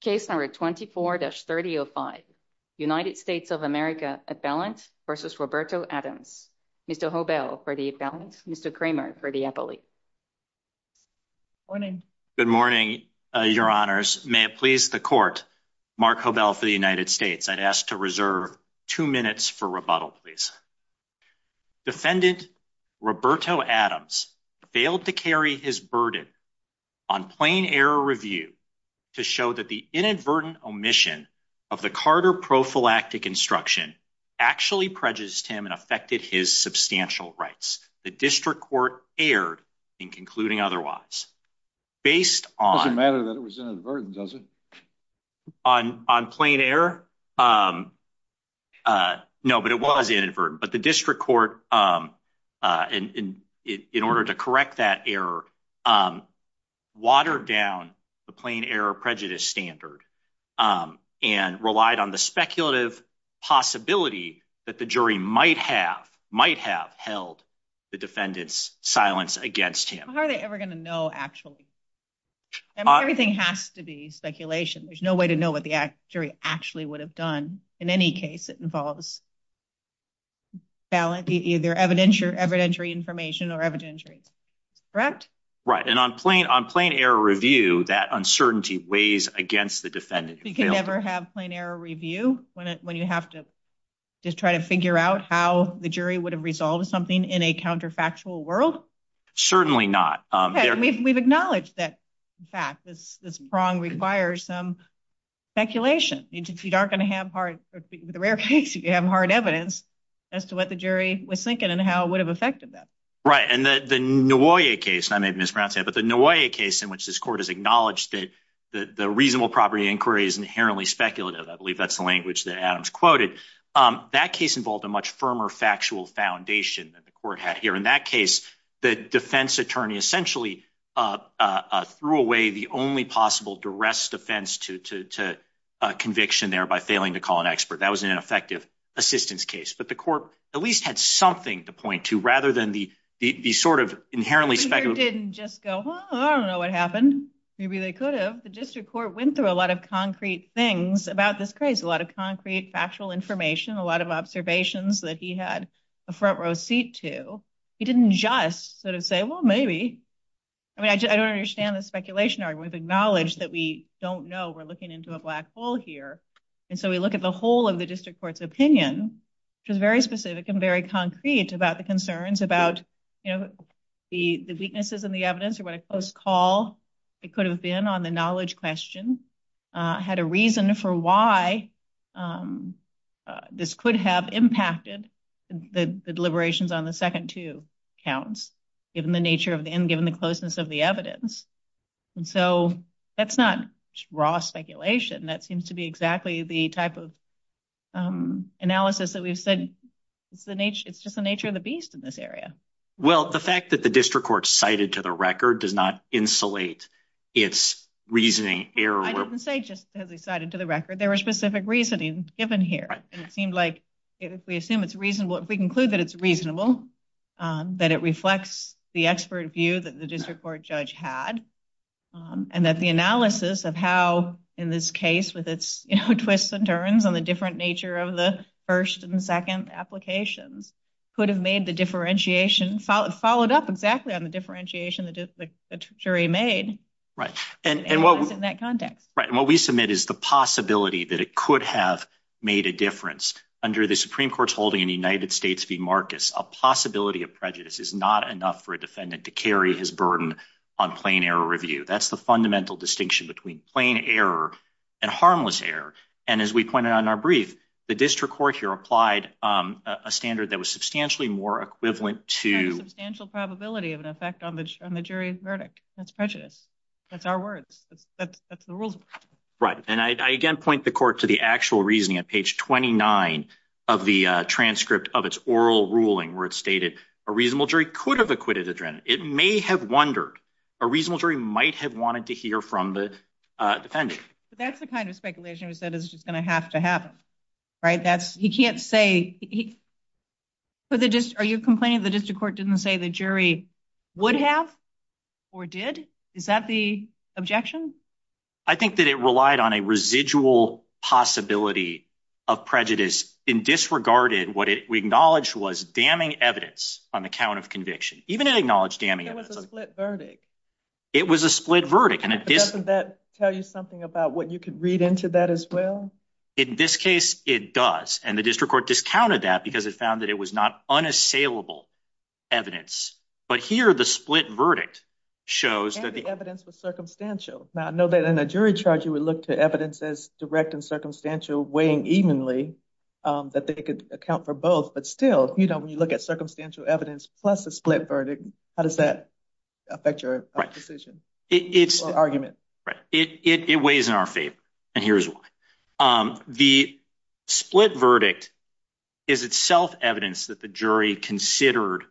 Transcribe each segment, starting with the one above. Case number 24-3005 United States of America at balance versus Roberto Adams Mr. Hobel for the balance, Mr. Kramer for the appellate. Good morning, your honors. May it please the court, Mark Hobel for the United States. I'd ask to reserve two minutes for rebuttal please. Defendant Roberto Adams failed to carry his burden on plain error review to show that the inadvertent omission of the Carter prophylactic instruction actually prejudiced him and affected his substantial rights. The district court erred in concluding otherwise. Based on matter that it was inadvertent, does it? On on plain error? No, but it was inadvertent, but the district court in order to correct that error watered down the plain error prejudice standard and relied on the speculative possibility that the jury might have might have held the defendant's silence against him. How are they ever gonna know actually? Everything has to be speculation. There's no way to know what the jury actually would have done in any case. It involves balance, either evidentiary, evidentiary information or evidentiary. Correct? Right. And on plane on plain error review, that uncertainty weighs against the defendant. You can never have plain error review when you have to just try to figure out how the jury would have resolved something in a counterfactual world. Certainly not. We've acknowledged that fact. This prong requires some speculation. You aren't gonna have hard the rare case. You have hard evidence as to what the jury was thinking and how it would have affected them. Right. And the Noir case I made Miss Brown said, but the Noir case in which this court has acknowledged that the reasonable property inquiry is inherently speculative. I believe that's the language that Adams quoted. Um, that case involved a much firmer factual foundation that the court had here. In that case, the defense attorney essentially, uh, threw away the only possible duress defense to conviction there by failing to call an expert. That was an effective assistance case. But the court at least had something to point to rather than the sort of inherently speculative didn't just go. I don't know what happened. Maybe they could have. The district court went through a lot of concrete things about this crazy, a lot of concrete, factual information, a lot of observations that he had a front row seat to. He didn't just sort of say, Well, maybe I mean, I don't understand the speculation argument. Acknowledged that we don't know we're looking into a black hole here. And so we look at the whole of the district court's opinion, which is very specific and very concrete about the concerns about, you know, the weaknesses in the evidence or what a close call it could have been on the knowledge question had a reason for why, um, this could have impacted the deliberations on the second two counts, given the nature of the end, given the closeness of the evidence. And so that's not raw speculation. That seems to be exactly the type of, um, analysis that we've said. It's the nature. It's just the nature of the beast in this area. Well, the fact that the district court cited to the record does not insulate its reasoning error. I didn't say just has decided to the record. There were specific reasoning given here, and it seemed like if we assume it's reasonable, if we conclude that it's reasonable, um, that it reflects the expert view that the district court judge had, um, and that the analysis of how in this case, with its twists and turns on the different nature of the 1st and 2nd applications could have made the differentiation followed up exactly on the differentiation the jury made, right? And what was in that context, right? What we submit is the possibility that it could have made a difference under the Supreme Court's building in the United States v Marcus. A possibility of prejudice is not enough for a defendant to carry his burden on plain error review. That's the fundamental distinction between plain error and harmless air. And as we pointed on our brief, the district court here applied a standard that was substantially more equivalent to substantial probability of an effect on the on the jury's verdict. That's prejudice. That's our words. That's the rules, right? And I again point the court to the actual reasoning of Page 29 of the transcript of its oral ruling, where it stated a reasonable jury could have acquitted adrenaline. It may have wondered a reasonable jury might have wanted to hear from the defendant. But that's the kind of speculation who said it's just gonna have to happen, right? That's he can't say he for the just are you complaining? The district court didn't say the jury would have or did. Is that the objection? I think that it relied on a residual possibility of prejudice in disregarded. What we acknowledge was damning evidence on the count of conviction. Even it acknowledged damning it was a split verdict. It was a split verdict, and it doesn't that tell you something about what you could read into that as well? In this case, it does. And the district court discounted that because it found that it was not unassailable evidence. But here the split verdict shows that the evidence was circumstantial. Now I know that in a jury charge, you would look to direct and circumstantial weighing evenly that they could account for both. But still, you know, when you look at circumstantial evidence plus a split verdict, how does that affect your decision? It's argument. It weighs in our favor, and here's why. Um, the split verdict is itself evidence that the jury considered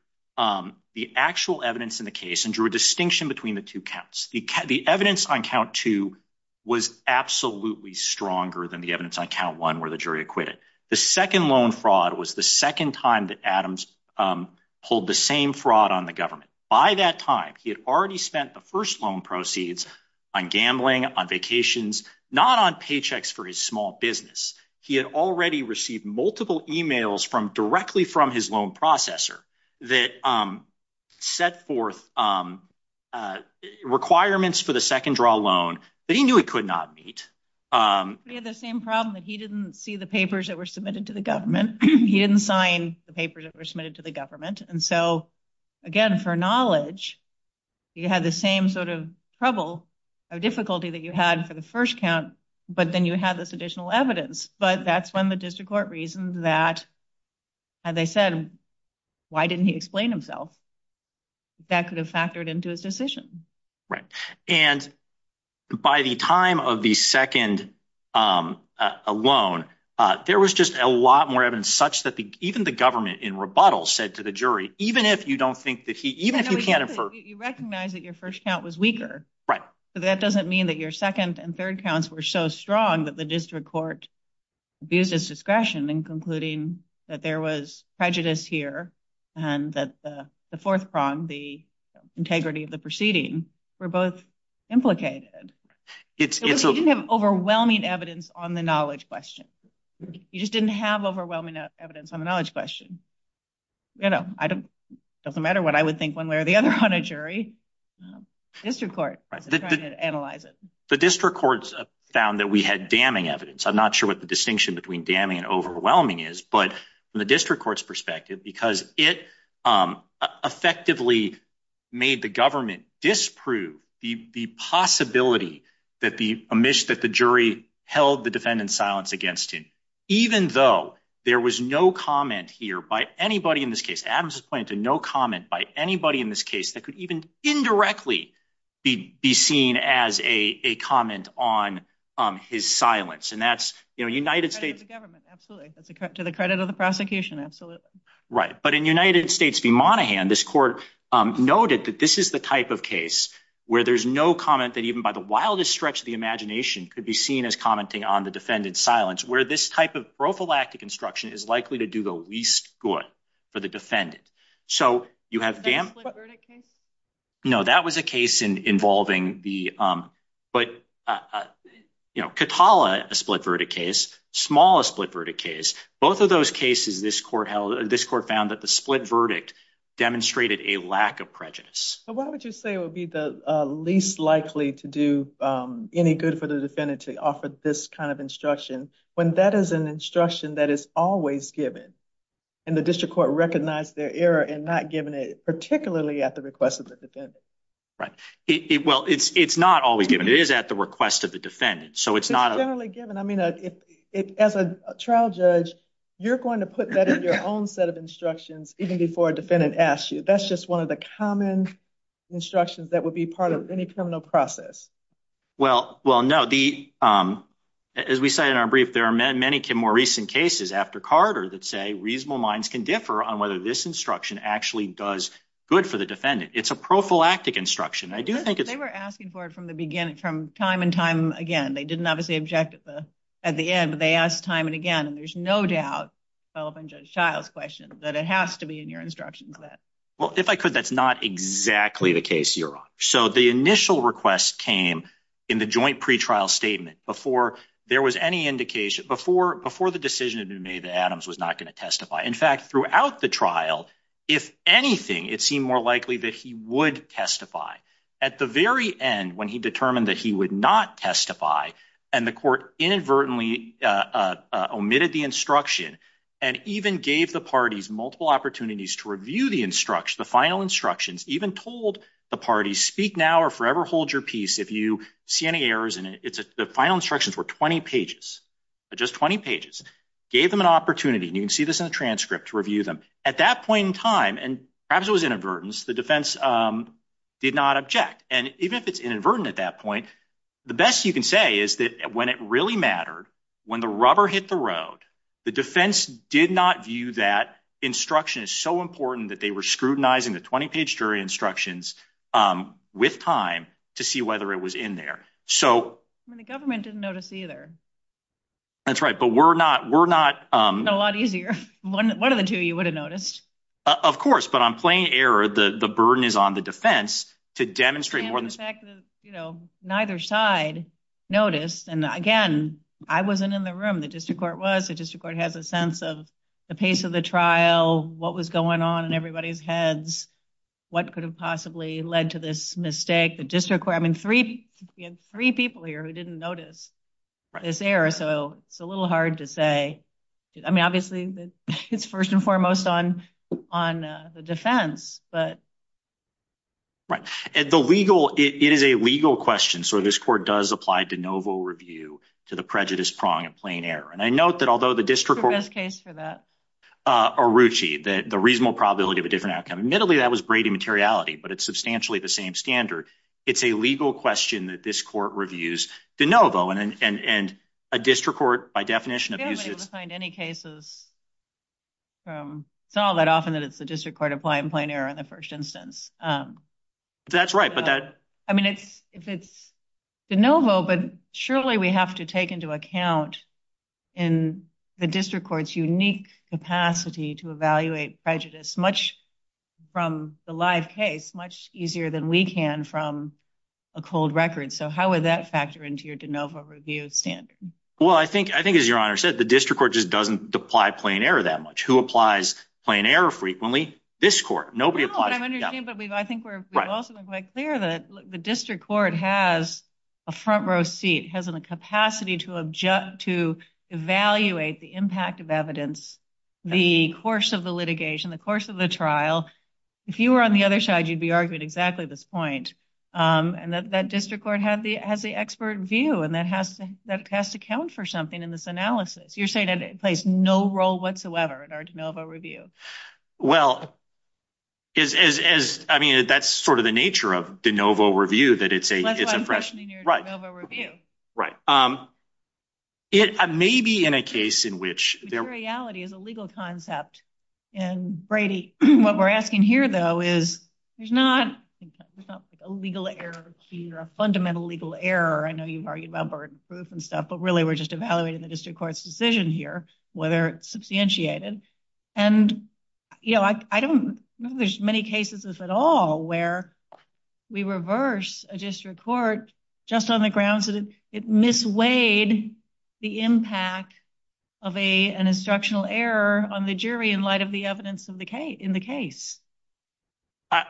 the actual evidence in the case and drew a distinction between the two counts. The evidence on count two was absolutely stronger than the evidence on count one, where the jury acquitted the second loan fraud was the second time that Adams, um, hold the same fraud on the government. By that time, he had already spent the first loan proceeds on gambling on vacations, not on paychecks for his small business. He had already received multiple emails from directly from his loan processor that, um, set forth, um, uh, requirements for the second draw loan that he knew it could not meet. Um, we have the same problem that he didn't see the papers that were submitted to the government. He didn't sign the papers that were submitted to the government. And so again, for knowledge, you had the same sort of trouble of difficulty that you had for the first count. But then you have this additional evidence. But that's when the district court reason that, as I said, why didn't he explain himself? That could have factored into his decision, right? And by the time of the second, um, alone, uh, there was just a lot more evidence such that even the government in rebuttal said to the jury, even if you don't think that he even if you can't infer, you recognize that your first count was weaker, but that doesn't mean that your second and third counts were so strong that the district court abused his discretion and concluding that there was prejudice here and that the fourth prong, the integrity of the proceeding were both implicated. It's you have overwhelming evidence on the knowledge question. You just didn't have overwhelming evidence on the knowledge question. You know, I don't doesn't matter what I would think one way or the other on a jury district court analyze it. The district courts found that we had damning evidence. I'm not sure what the distinction between damning and overwhelming is. But from the district court's perspective, because it, um, effectively made the government disprove the possibility that the image that the jury held the defendant's silence against him, even though there was no comment here by anybody in this case, Adams is pointing to no comment by anybody in this case that could even indirectly be seen as a comment on his silence. And that's, you know, United States government. Absolutely. That's a cut to the credit of the prosecution. Absolutely right. But in United States V Monahan, this court noted that this is the type of case where there's no comment that even by the wildest stretch of the imagination could be seen as commenting on the defendant's silence, where this type of prophylactic instruction is likely to do the least good for the defendant. So you have damp verdict case. No, that was a case in involving the, um, but, uh, you know, Katala, a split verdict case, smallest split verdict case. Both of those cases, this court held this court found that the split verdict demonstrated a lack of prejudice. What would you say would be the least likely to do any good for the defendant to offer this kind of instruction when that is an instruction that is always given? And the district court recognized their error and not given it, particularly at the request of the defendant. Right? Well, it's not always given. It is at the request of the defendant. So it's not generally given. I mean, as a trial judge, you're going to put that in your own set of instructions even before defendant asked you. That's just one of the common instructions that would be part of any criminal process. Well, well, no, the, um, as we say in our brief, there are reasonable minds can differ on whether this instruction actually does good for the defendant. It's a prophylactic instruction. I do think they were asking for it from the beginning, from time and time again. They didn't obviously object at the at the end, but they asked time and again, and there's no doubt fell up and just child's question that it has to be in your instructions that well, if I could, that's not exactly the case you're on. So the initial request came in the joint pretrial statement before there was any indication before before the decision had been made that Adams was not going to testify. In fact, throughout the trial, if anything, it seemed more likely that he would testify at the very end when he determined that he would not testify and the court inadvertently omitted the instruction and even gave the parties multiple opportunities to review the instruction. The final instructions even told the party speak now or forever. Hold your peace. If you see any errors in it, the final instructions were 20 pages. Just 20 pages gave them an opportunity. You can see this in a transcript to review them at that point in time, and perhaps it was inadvertence. The defense, um, did not object. And even if it's inadvertent at that point, the best you can say is that when it really mattered when the rubber hit the road, the defense did not view that instruction is so important that they were scrutinizing the 20 page jury instructions, um, with time to see whether it was in there. So the government didn't notice either. That's right. But we're not. We're not a lot easier. One of the two you would have noticed, of course, but I'm playing error. The burden is on the defense to demonstrate more than, you know, neither side noticed. And again, I wasn't in the room. The district court was. The district court has a sense of the pace of the trial. What was going on in everybody's heads? What could have possibly led to this mistake? The district where I'm in three, three people here who didn't notice this error. So it's a little hard to say. I mean, obviously, it's first and foremost on on the defense, but right. The legal it is a legal question. So this court does apply to Novo review to the prejudice prong and plain error. And I note that although the district has case for that, uh, Ruchi that the reasonable probability of a outcome. Admittedly, that was Brady materiality, but it's substantially the same standard. It's a legal question that this court reviews to Novo and a district court, by definition of any cases from saw that often that it's the district court applying plain error in the first instance. Um, that's right. But that I mean, it's if it's the Novo, but surely we have to take into account in the district court's unique capacity to evaluate prejudice much from the live case much easier than we can from a cold record. So how would that factor into your de novo review standard? Well, I think I think, as your honor said, the district court just doesn't apply plain error that much who applies plain error frequently. This court nobody applies. But I think we're also quite clear that the district court has a front row seat, hasn't a capacity to to evaluate the impact of evidence. The course of the litigation, the course of the trial. If you were on the other side, you'd be arguing exactly this point. Um, and that that district court had the has the expert view, and that has that has to count for something in this analysis. You're saying that it plays no role whatsoever in our de novo review. Well, is I mean, that's sort of the nature of de novo review that it's a it's a fresh right. Um, it may be in a case in which there reality is a legal concept. And Brady, what we're asking here, though, is there's not a legal error here, a fundamental legal error. I know you've argued about burden proof and stuff, but really, we're just evaluating the district court's decision here, whether it's substantiated. And, you know, I don't know. There's many cases, if at all, where we reverse a district court just on the grounds that it misweighed the impact of a an instructional error on the jury in light of the evidence of the case in the case.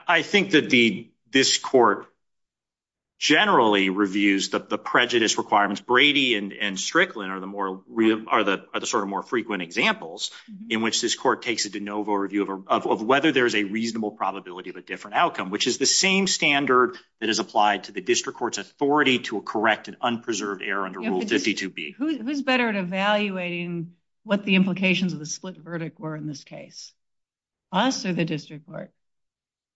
I think that the this court generally reviews the prejudice requirements. Brady and Strickland are the more are the sort of more frequent examples in which this court takes a de novo review of whether there's a reasonable probability of a different outcome, which is the same standard that is applied to the district court's authority to correct an unpreserved error under Rule 52B. Who's better at evaluating what the implications of the split verdict were in this case? Us or the district court?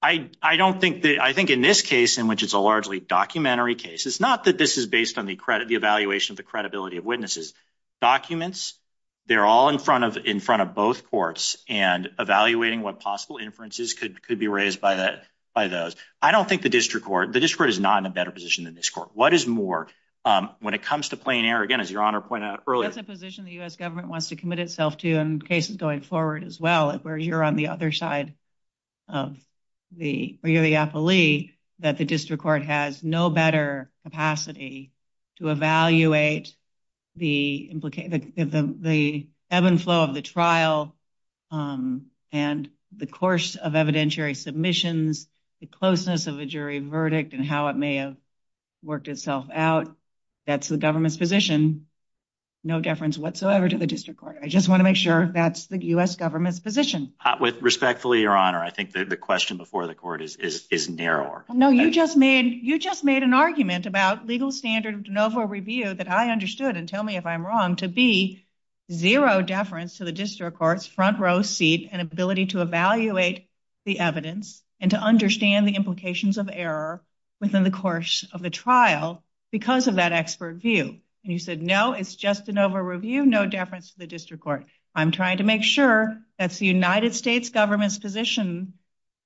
I don't think that I think in this case, in which it's a largely documentary case, it's not that this is based on the credit the evaluation of the credibility of witnesses documents. They're all in front of in front of both courts and evaluating what possible inferences could could be raised by that by those. I don't think the district court, the district is not in a better position than this court. What is more, um, when it comes to playing air again, as your honor pointed out earlier position, the U. S. Government wants to commit itself to in cases going forward as well, where you're on the other side of the you're the appellee that the district court has no better capacity to evaluate the implication of the ebb and flow of the trial. Um, and the course of evidentiary submissions, the closeness of a jury verdict and how it may have worked itself out. That's the government's position. No deference whatsoever to the district court. I just want to make sure that's the U. S. Government's position with respectfully your honor. I think the question before the court is is narrower. No, you just made. You just made an argument about legal standard of de novo review that I understood and tell me if I'm wrong to be zero deference to the district court's front row seat and ability to evaluate the evidence and to understand the implications of error within the course of the trial because of that expert view. And you said no, it's just an over review. No deference to the district court. I'm trying to make sure that's the United States government's position.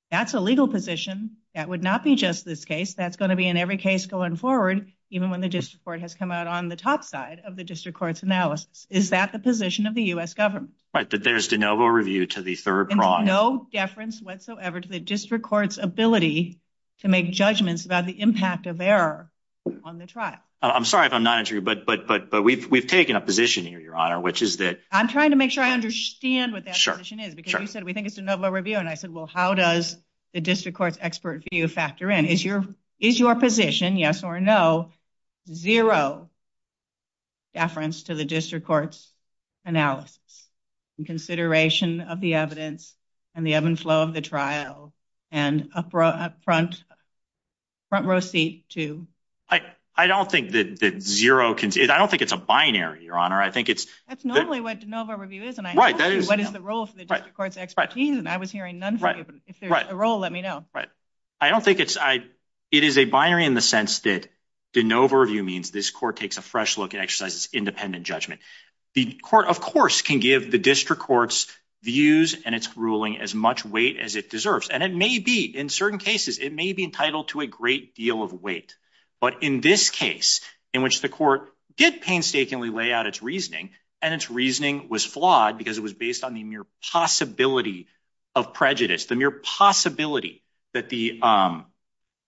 That's a legal position. That would not be just this case. That's going to be in every case going forward, even when the district court has come out on the top side of the district court's analysis. Is that the position of the U. S. Government? There's de novo review to the third prime. No deference whatsoever to the district court's ability to make judgments about the impact of error on the trial. I'm sorry if I'm not interviewed, but but but but we've we've taken a position here, your honor, which is that I'm trying to make sure I understand what that position is because you said we think it's de novo review. And I said, well, how does the district court's expert view factor in? Is your is your position? Yes or no? Zero deference to the district court's analysis and consideration of the evidence and the ebb and flow of the trial and up front front row seat to. I don't think that zero can. I don't think it's a binary, Your Honor. I think it's that's normally what de novo review is. And I right, that is what the role for the court's expertise. And I was hearing none. If there's a role, let me know. Right. I don't think it's I. It is a binary in the sense that de novo review means this court takes a fresh look at exercises independent judgment. The court, of course, can give the district court's views and its ruling as much weight as it deserves. And it may be in certain cases it may be entitled to a great deal of weight. But in this case, in which the court did painstakingly lay out its reasoning and its reasoning was flawed because it was based on the mere possibility of prejudice. The mere possibility that the, um,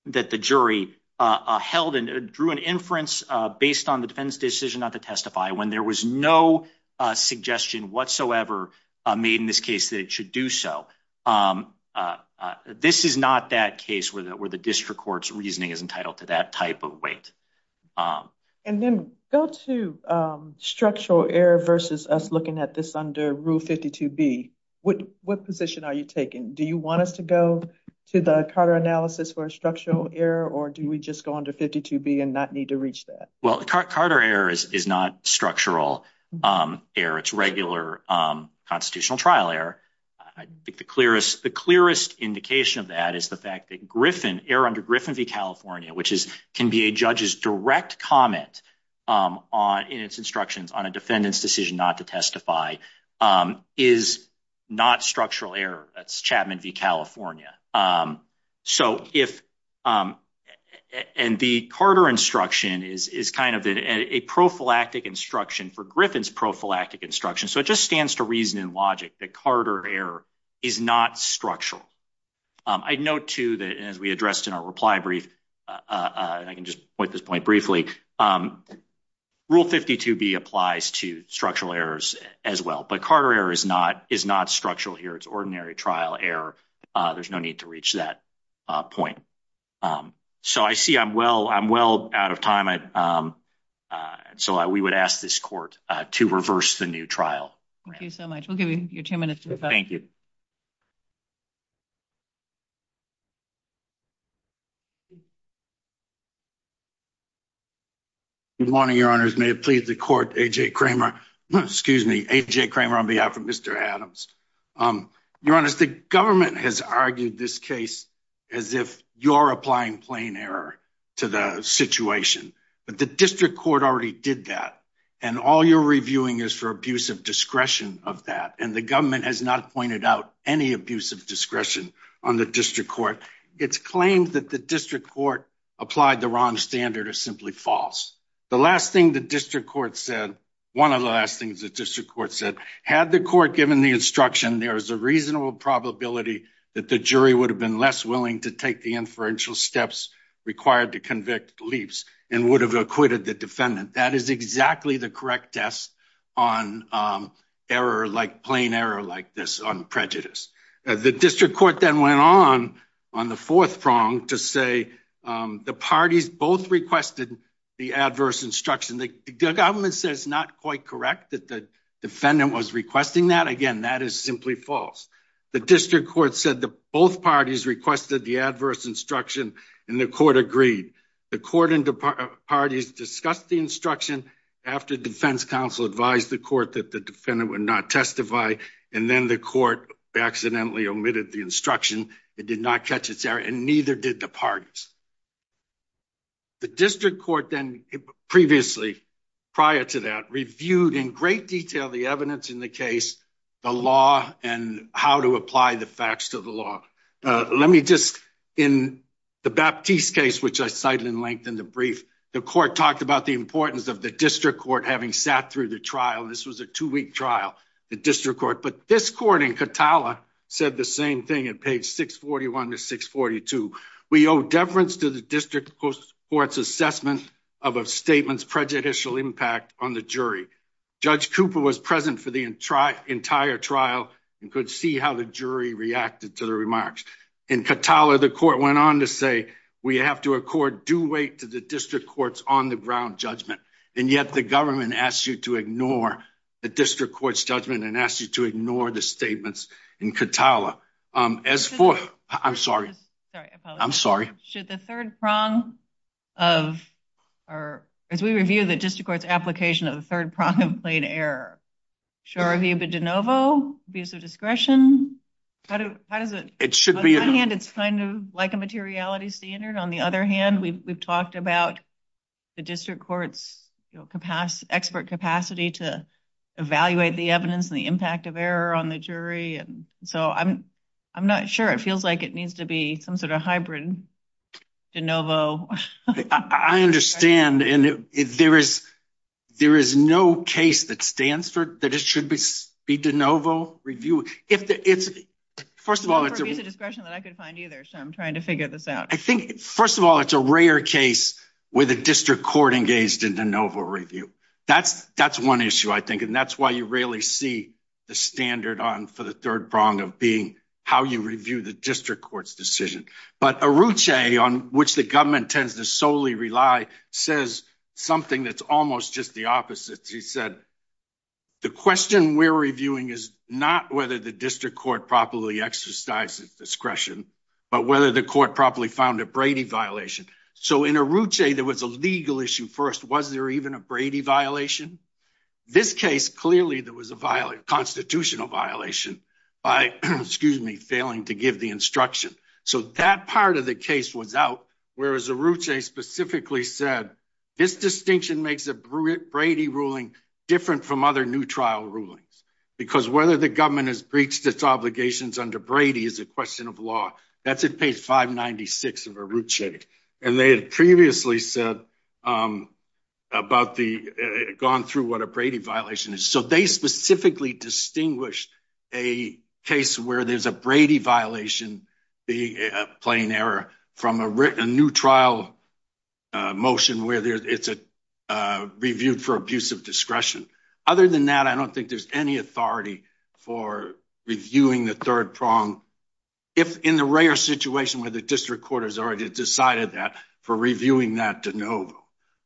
that the jury, uh, held and drew an inference based on the defense decision not to testify when there was no suggestion whatsoever made in this case that it should do so. Um, uh, this is not that case where the district court's reasoning is entitled to that type of weight. Um, and then go to, um, structural error versus us looking at this under rule 52 B. What? What position are you taking? Do you want us to go to the Carter analysis for a structural error? Or do we just go under 52 B and not need to reach that? Well, Carter errors is not structural, um, error. It's regular, um, constitutional trial error. I think the clearest the clearest indication of that is the fact that Griffin air under Griffin v California, which is can be a judge's direct comment, um, on in its instructions on a defendant's decision not to testify, um, is not structural error. That's Chapman v California. Um, so if, um, and the Carter instruction is is kind of a prophylactic instruction for Griffin's prophylactic instruction. So it just stands to reason and logic that Carter air is not structural. I'd note to that, as we addressed in our reply brief, uh, I can just point this point briefly. Um, rule 52 B applies to structural errors as well. But Carter error is not is not structural here. It's ordinary trial error. There's no need to reach that point. Um, so I see I'm well, I'm well out of time. I, um, uh, so we would ask this court to reverse the new trial. Thank you so much. We'll give you two minutes. Thank you. Mhm. Good morning, Your Honor's may have pleased the court. A. J. Kramer. Excuse me, A. J. Kramer on behalf of Mr Adams. Um, you're honest. The government has argued this case as if you're applying plain error to the situation. But the district court already did that. And all you're reviewing is for abusive discretion of that. And the government has not pointed out any abusive discretion on the district court. It's claimed that the district court applied the wrong standard is simply false. The last thing the district court said, one of the last things that district court said had the court given the instruction, there is a reasonable probability that the jury would have been less willing to take the inferential steps required to convict leaps and would have acquitted the defendant. That is exactly the correct test on, um, error like plain error like this on prejudice. The district court then went on on the fourth prong to say, um, the parties both requested the adverse instruction. The government says not quite correct that the defendant was requesting that again. That is simply false. The district court said that both parties requested the adverse instruction and the court agreed. The court and parties discussed the instruction after defense counsel advised the court that the defendant would not testify. And then the court accidentally omitted the instruction. It did not catch its error, and neither did the parties. The district court then previously, prior to that, reviewed in great detail the evidence in the case, the law and how to apply the facts to the law. Let me just in the Baptiste case, which I cited in length in the brief, the court talked about the importance of the district court having sat through the trial. This was a two week trial. The district court. But this court in Katala said the same thing. It paid 6 41 to 6 42. We owe deference to the district courts assessment of a statement's prejudicial impact on the jury. Judge Cooper was present for the entire trial and could see how the jury reacted to the remarks in Katala. The court went on to say we have to court. Do wait to the district courts on the ground judgment. And yet the government asks you to ignore the district court's judgment and asks you to ignore the statements in Katala. Um, as for I'm sorry, I'm sorry. Should the third prong of our as we review the district court's application of the third prong of plain error? Sure. Have you been de novo? Abuse of discretion? How does it? It should be. It's kind of like a materiality standard. On the other hand, we've talked about the district court's capacity, expert capacity to evaluate the evidence and the impact of error on the jury. And so I'm I'm not sure it feels like it needs to be some sort of hybrid de novo. I understand. And if there is, there is no case that stands for that. It should be be de novo review. If it's first of all, it's a discretion that I could either. So I'm trying to figure this out. I think, first of all, it's a rare case where the district court engaged in de novo review. That's that's one issue, I think. And that's why you rarely see the standard on for the third prong of being how you review the district court's decision. But a route a on which the government tends to solely rely, says something that's almost just the opposite. He said the question we're reviewing is not whether the district court properly exercises discretion, but whether the court properly found a Brady violation. So in a route, there was a legal issue. First, was there even a Brady violation? This case? Clearly, there was a violent constitutional violation by excuse me, failing to give the instruction. So that part of the case was out, whereas a route specifically said this distinction makes a bruit Brady ruling different from other new rulings. Because whether the government has breached its obligations under Brady is a question of law. That's a page 5 96 of a route check. And they had previously said, um, about the gone through what a Brady violation is. So they specifically distinguished a case where there's a Brady violation, the plain error from a written a new trial motion where there's it's a reviewed for abuse of discretion. Other than that, I don't think there's any authority for reviewing the third prong. If in the rare situation where the district court has already decided that for reviewing that de novo,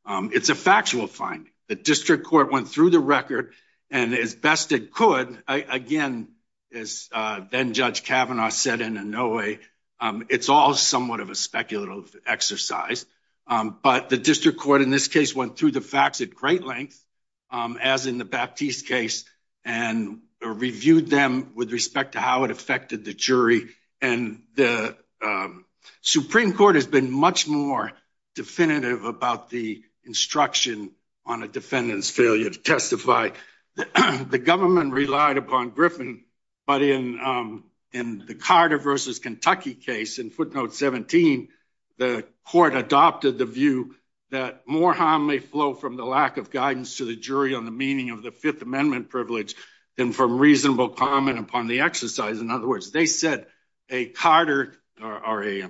it's a factual finding. The district court went through the record and as best it could again is then Judge Kavanaugh said in a no way. It's all somewhat of a speculative exercise. But the district court in this case went through the acts at great length, um, as in the Baptiste case and reviewed them with respect to how it affected the jury. And the, um, Supreme Court has been much more definitive about the instruction on a defendant's failure to testify. The government relied upon Griffin. But in, um, in the Carter versus Kentucky case in footnote 17, the court adopted the view that more harm may flow from the lack of guidance to the jury on the meaning of the Fifth Amendment privilege than from reasonable comment upon the exercise. In other words, they said a Carter or a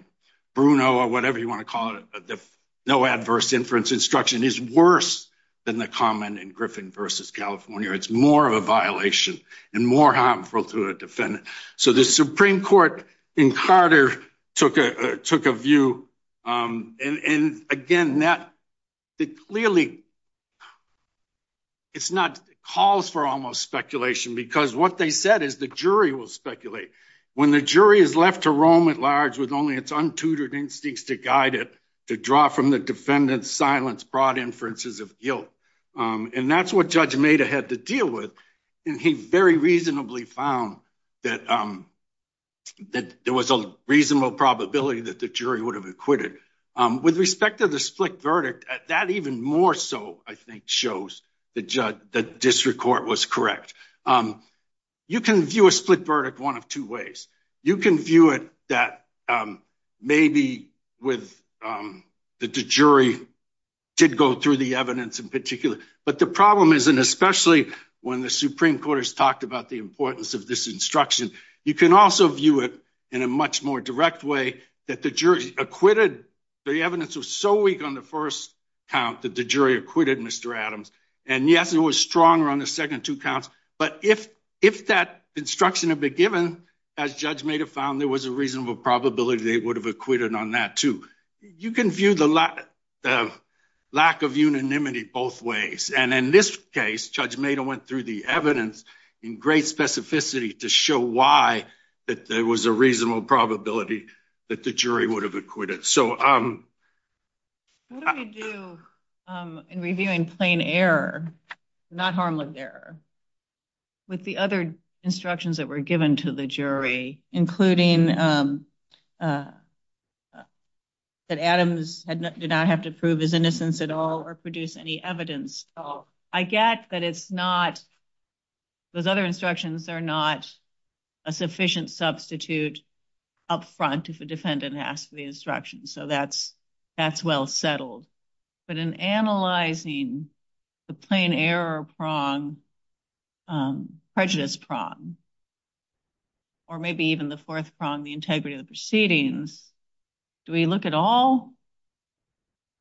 Bruno or whatever you want to call it. No adverse inference instruction is worse than the common in Griffin versus California. It's more of a violation and more harmful to a defendant. So the Supreme Court in Carter took a took a view. Um, and again, that clearly it's not calls for almost speculation because what they said is the jury will speculate when the jury is left to roam at large with only its untutored instincts to guide it to draw from the defendant's silence, broad inferences of guilt. Um, and that's what Judge made ahead to deal with. And he very reasonably found that, um, that there was a reasonable probability that the jury would have acquitted. Um, with respect to the split verdict at that, even more so, I think, shows the judge. The district court was correct. Um, you can view a split verdict one of two ways. You can view it that, um, maybe with, um, that the jury did go through the evidence in particular. But the problem is, and especially when the Supreme Court has talked about the importance of this instruction, you can also view it in a much more direct way that the jury acquitted. The evidence was so weak on the first count that the jury acquitted Mr Adams. And yes, it was stronger on the second two counts. But if if that instruction have been given, as Judge made a found, there was a reasonable probability they would have acquitted on that, too. You case, Judge made a went through the evidence in great specificity to show why that there was a reasonable probability that the jury would have acquitted. So, um, what do we do in reviewing plain error, not harm lived error with the other instructions that were given to the jury, including, um, uh, that Adams did not have to prove his innocence at all or produce any evidence? I get that. It's not those other instructions. They're not a sufficient substitute up front. If a defendant asked for the instruction, so that's that's well settled. But in analyzing the plain error prong, um, prejudice prong or maybe even the fourth prong, the integrity of the proceedings. Do we look at all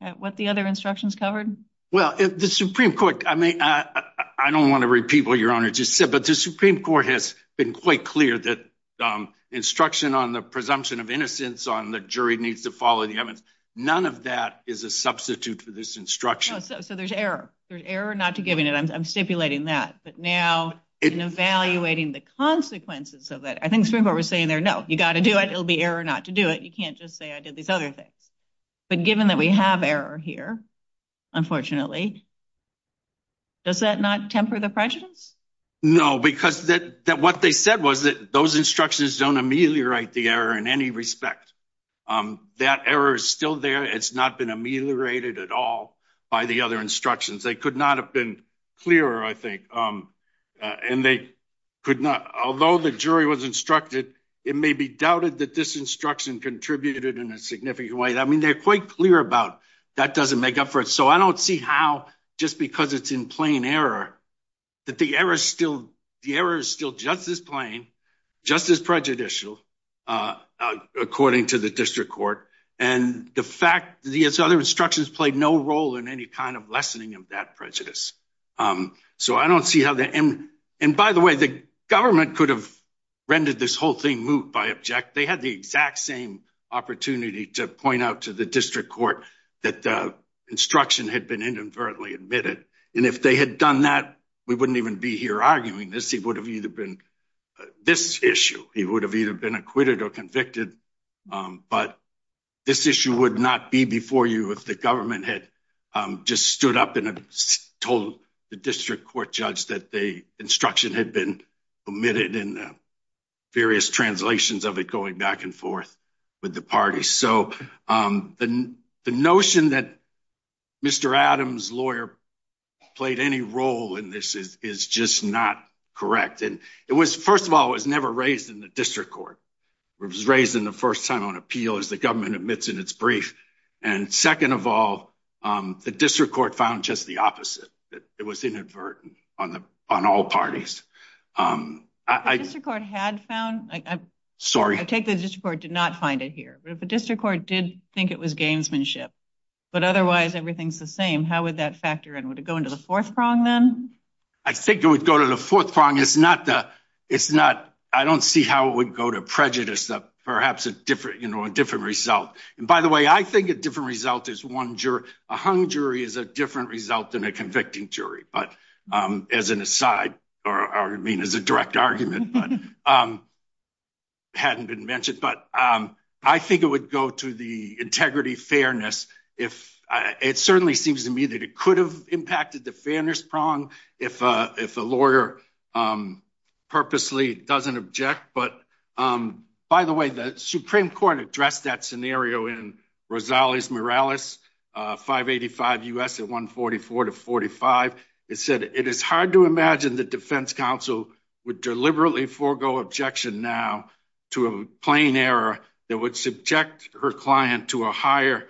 at what the other instructions covered? Well, the Supreme Court. I mean, I don't want to repeat what your honor just said. But the Supreme Court has been quite clear that, um, instruction on the presumption of innocence on the jury needs to follow the evidence. None of that is a substitute for this instruction. So there's error. There's error not to giving it. I'm stipulating that. But now in evaluating the consequences of that, I think Supreme Court was saying there. No, you got to do it. It will be error not to do it. You can't just say I did these other things. But given that we have error here, unfortunately, does that not temper the prejudice? No, because that what they said was that those instructions don't ameliorate the error in any respect. Um, that error is still there. It's not been ameliorated at all by the other instructions. They could not have been clearer, I think. Um, and they could not. Although the jury was instructed, it may be doubted that this instruction contributed in a significant way. I mean, they're quite clear about that doesn't make up for it. So I don't see how just because it's in plain error that the error is still the error is still just as plain, just as prejudicial, uh, according to the district court. And the fact the other instructions played no role in any kind of lessening of that prejudice. Um, so I don't see how the end. And by the way, the government could have rendered this whole thing moved by object. They had the exact same opportunity to point out to the district court that the instruction had been inadvertently admitted. And if they had done that, we wouldn't even be here arguing this. He would have either been this issue. He would have either been acquitted or convicted. Um, but this issue would not be before you if the government had just stood up and told the district court judge that the instruction had been omitted in the various translations of it going back and forth with the party. So, um, the the notion that Mr Adams lawyer played any role in this is just not correct. And it was, first of all, was never raised in the district court. It was raised in the first time on appeal as the government admits in its brief. And second of all, um, the district court found just the opposite. It was inadvertent on the on all parties. Um, I just record had found. I'm sorry. I take the district court did not find it here. But if the district court did think it was gamesmanship, but otherwise everything's the same. How would that factor and would go into the fourth prong? Then I think it would go to the fourth prong. It's not the it's not. I don't see how it would go to prejudice that perhaps a different, you know, a different result. And by the way, I think a different result is one juror. A hung jury is a different result than a convicting jury. But, um, as an aside, or I mean, as a direct argument, but, um, hadn't been mentioned. But, um, I think it would go to the integrity fairness if it certainly seems to me that it could have impacted the fairness prong if if the lawyer, um, purposely doesn't object. But, um, by the way, the Supreme Court addressed that scenario in Rosales Morales. Uh, 5 85 U. S. At 1 44 to 45. It said it is hard to imagine the defense counsel would deliberately forego objection now to a plain error that would subject her client to a higher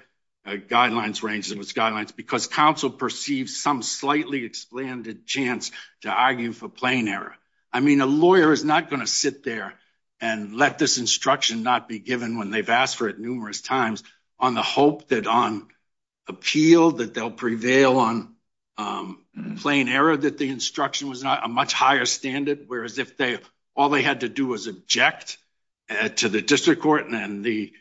guidelines range of its guidelines because council perceived some slightly expanded chance to argue for plain error. I mean, a is not going to sit there and let this instruction not be given when they've asked for it numerous times on the hope that on appeal that they'll prevail on, um, plain error that the instruction was not a much higher standard, whereas if they all they had to do was object to the district court and then the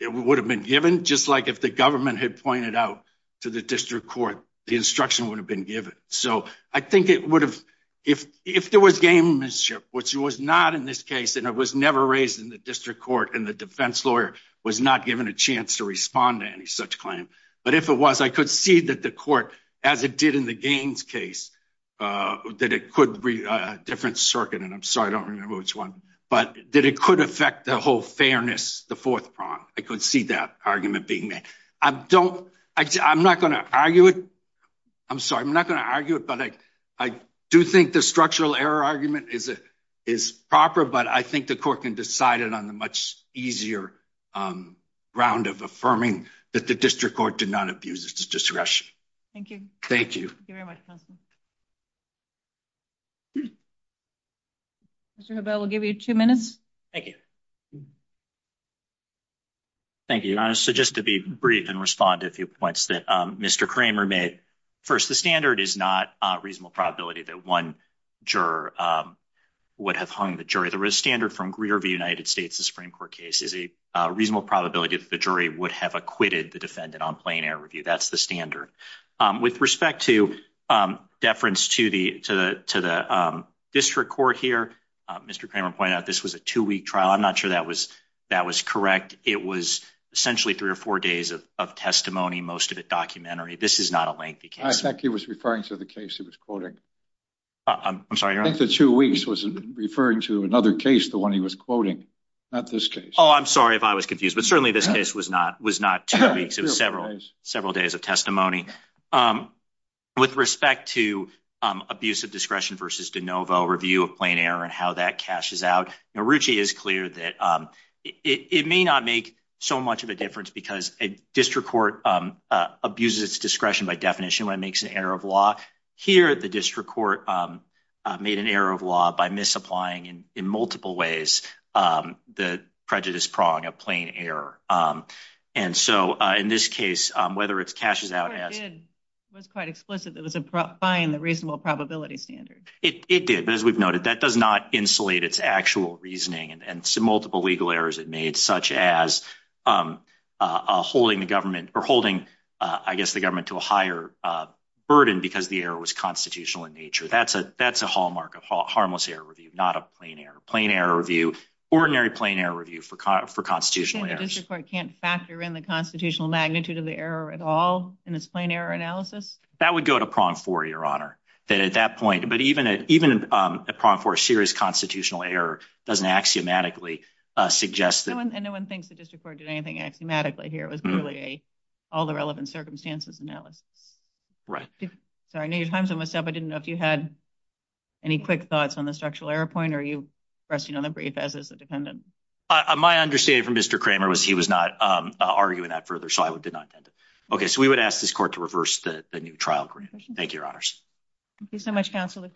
it would have been given just like if the government had pointed out to the district court, the instruction would have been given. So I think it would have if if there was games ship, which was not in this case and it was never raised in the district court and the defense lawyer was not given a chance to respond to any such claim. But if it was, I could see that the court as it did in the games case, uh, that it could be a different circuit. And I'm sorry. I don't remember which one, but that it could affect the whole fairness. The fourth prong. I could see that argument being made. I don't I'm not gonna argue it. I'm sorry. I'm not gonna argue it. But I do think the structural error argument is is proper. But I think the court can decide it on the much easier, um, round of affirming that the district court did not abuse its discretion. Thank you. Thank you very much. Mr Nobel will give you two minutes. Thank you. Thank you. So just to be brief and respond to a few points that Mr Kramer first, the standard is not a reasonable probability that one juror, um, would have hung the jury. There is standard from Greer of the United States. The Supreme Court case is a reasonable probability that the jury would have acquitted the defendant on plain air review. That's the standard. Um, with respect to, um, deference to the to the to the, um, district court here, Mr Kramer pointed out this was a two week trial. I'm not sure that was that was correct. It was essentially three or four days of testimony. Most of it documentary. This is not a lengthy case. I think he was referring to the case. He was quoting. I'm sorry. I think the two weeks was referring to another case. The one he was quoting at this case. Oh, I'm sorry if I was confused. But certainly this case was not was not two weeks. It was several several days of testimony. Um, with respect to, um, abusive discretion versus de novo review of plain air and how that cashes out. Ruchi is clear that, um, it may not make so much of a difference because a district court, um, abuses discretion by definition when it makes an error of law here at the district court, um, made an error of law by misapplying and in multiple ways. Um, the prejudice prong of plain air. Um, and so in this case, whether it's cashes out as it was quite explicit, that was fine. The reasonable probability standard it did. But as we've noted, that does not insulate its actual reasoning and multiple legal errors it made, such as, um, holding the government or holding, I guess the government to a higher burden because the air was constitutional in nature. That's a that's a hallmark of harmless air review, not a plain air, plain air review, ordinary plain air review for for constitutional areas. Can't factor in the constitutional magnitude of the error at all in its plain air analysis. That would go to prong for your honor that at that point, but even even, um, a prompt for a serious constitutional error doesn't axiomatically suggest that no one thinks the district court anything axiomatically here was really a all the relevant circumstances analysis, right? So I know your time's almost up. I didn't know if you had any quick thoughts on the structural error point. Are you resting on the brief as is the dependent? My understanding from Mr Kramer was he was not arguing that further, so I did not attend it. Okay, so we would ask this court to reverse the new trial grant. Thank you, your honors. Thank you so much. Council of faces.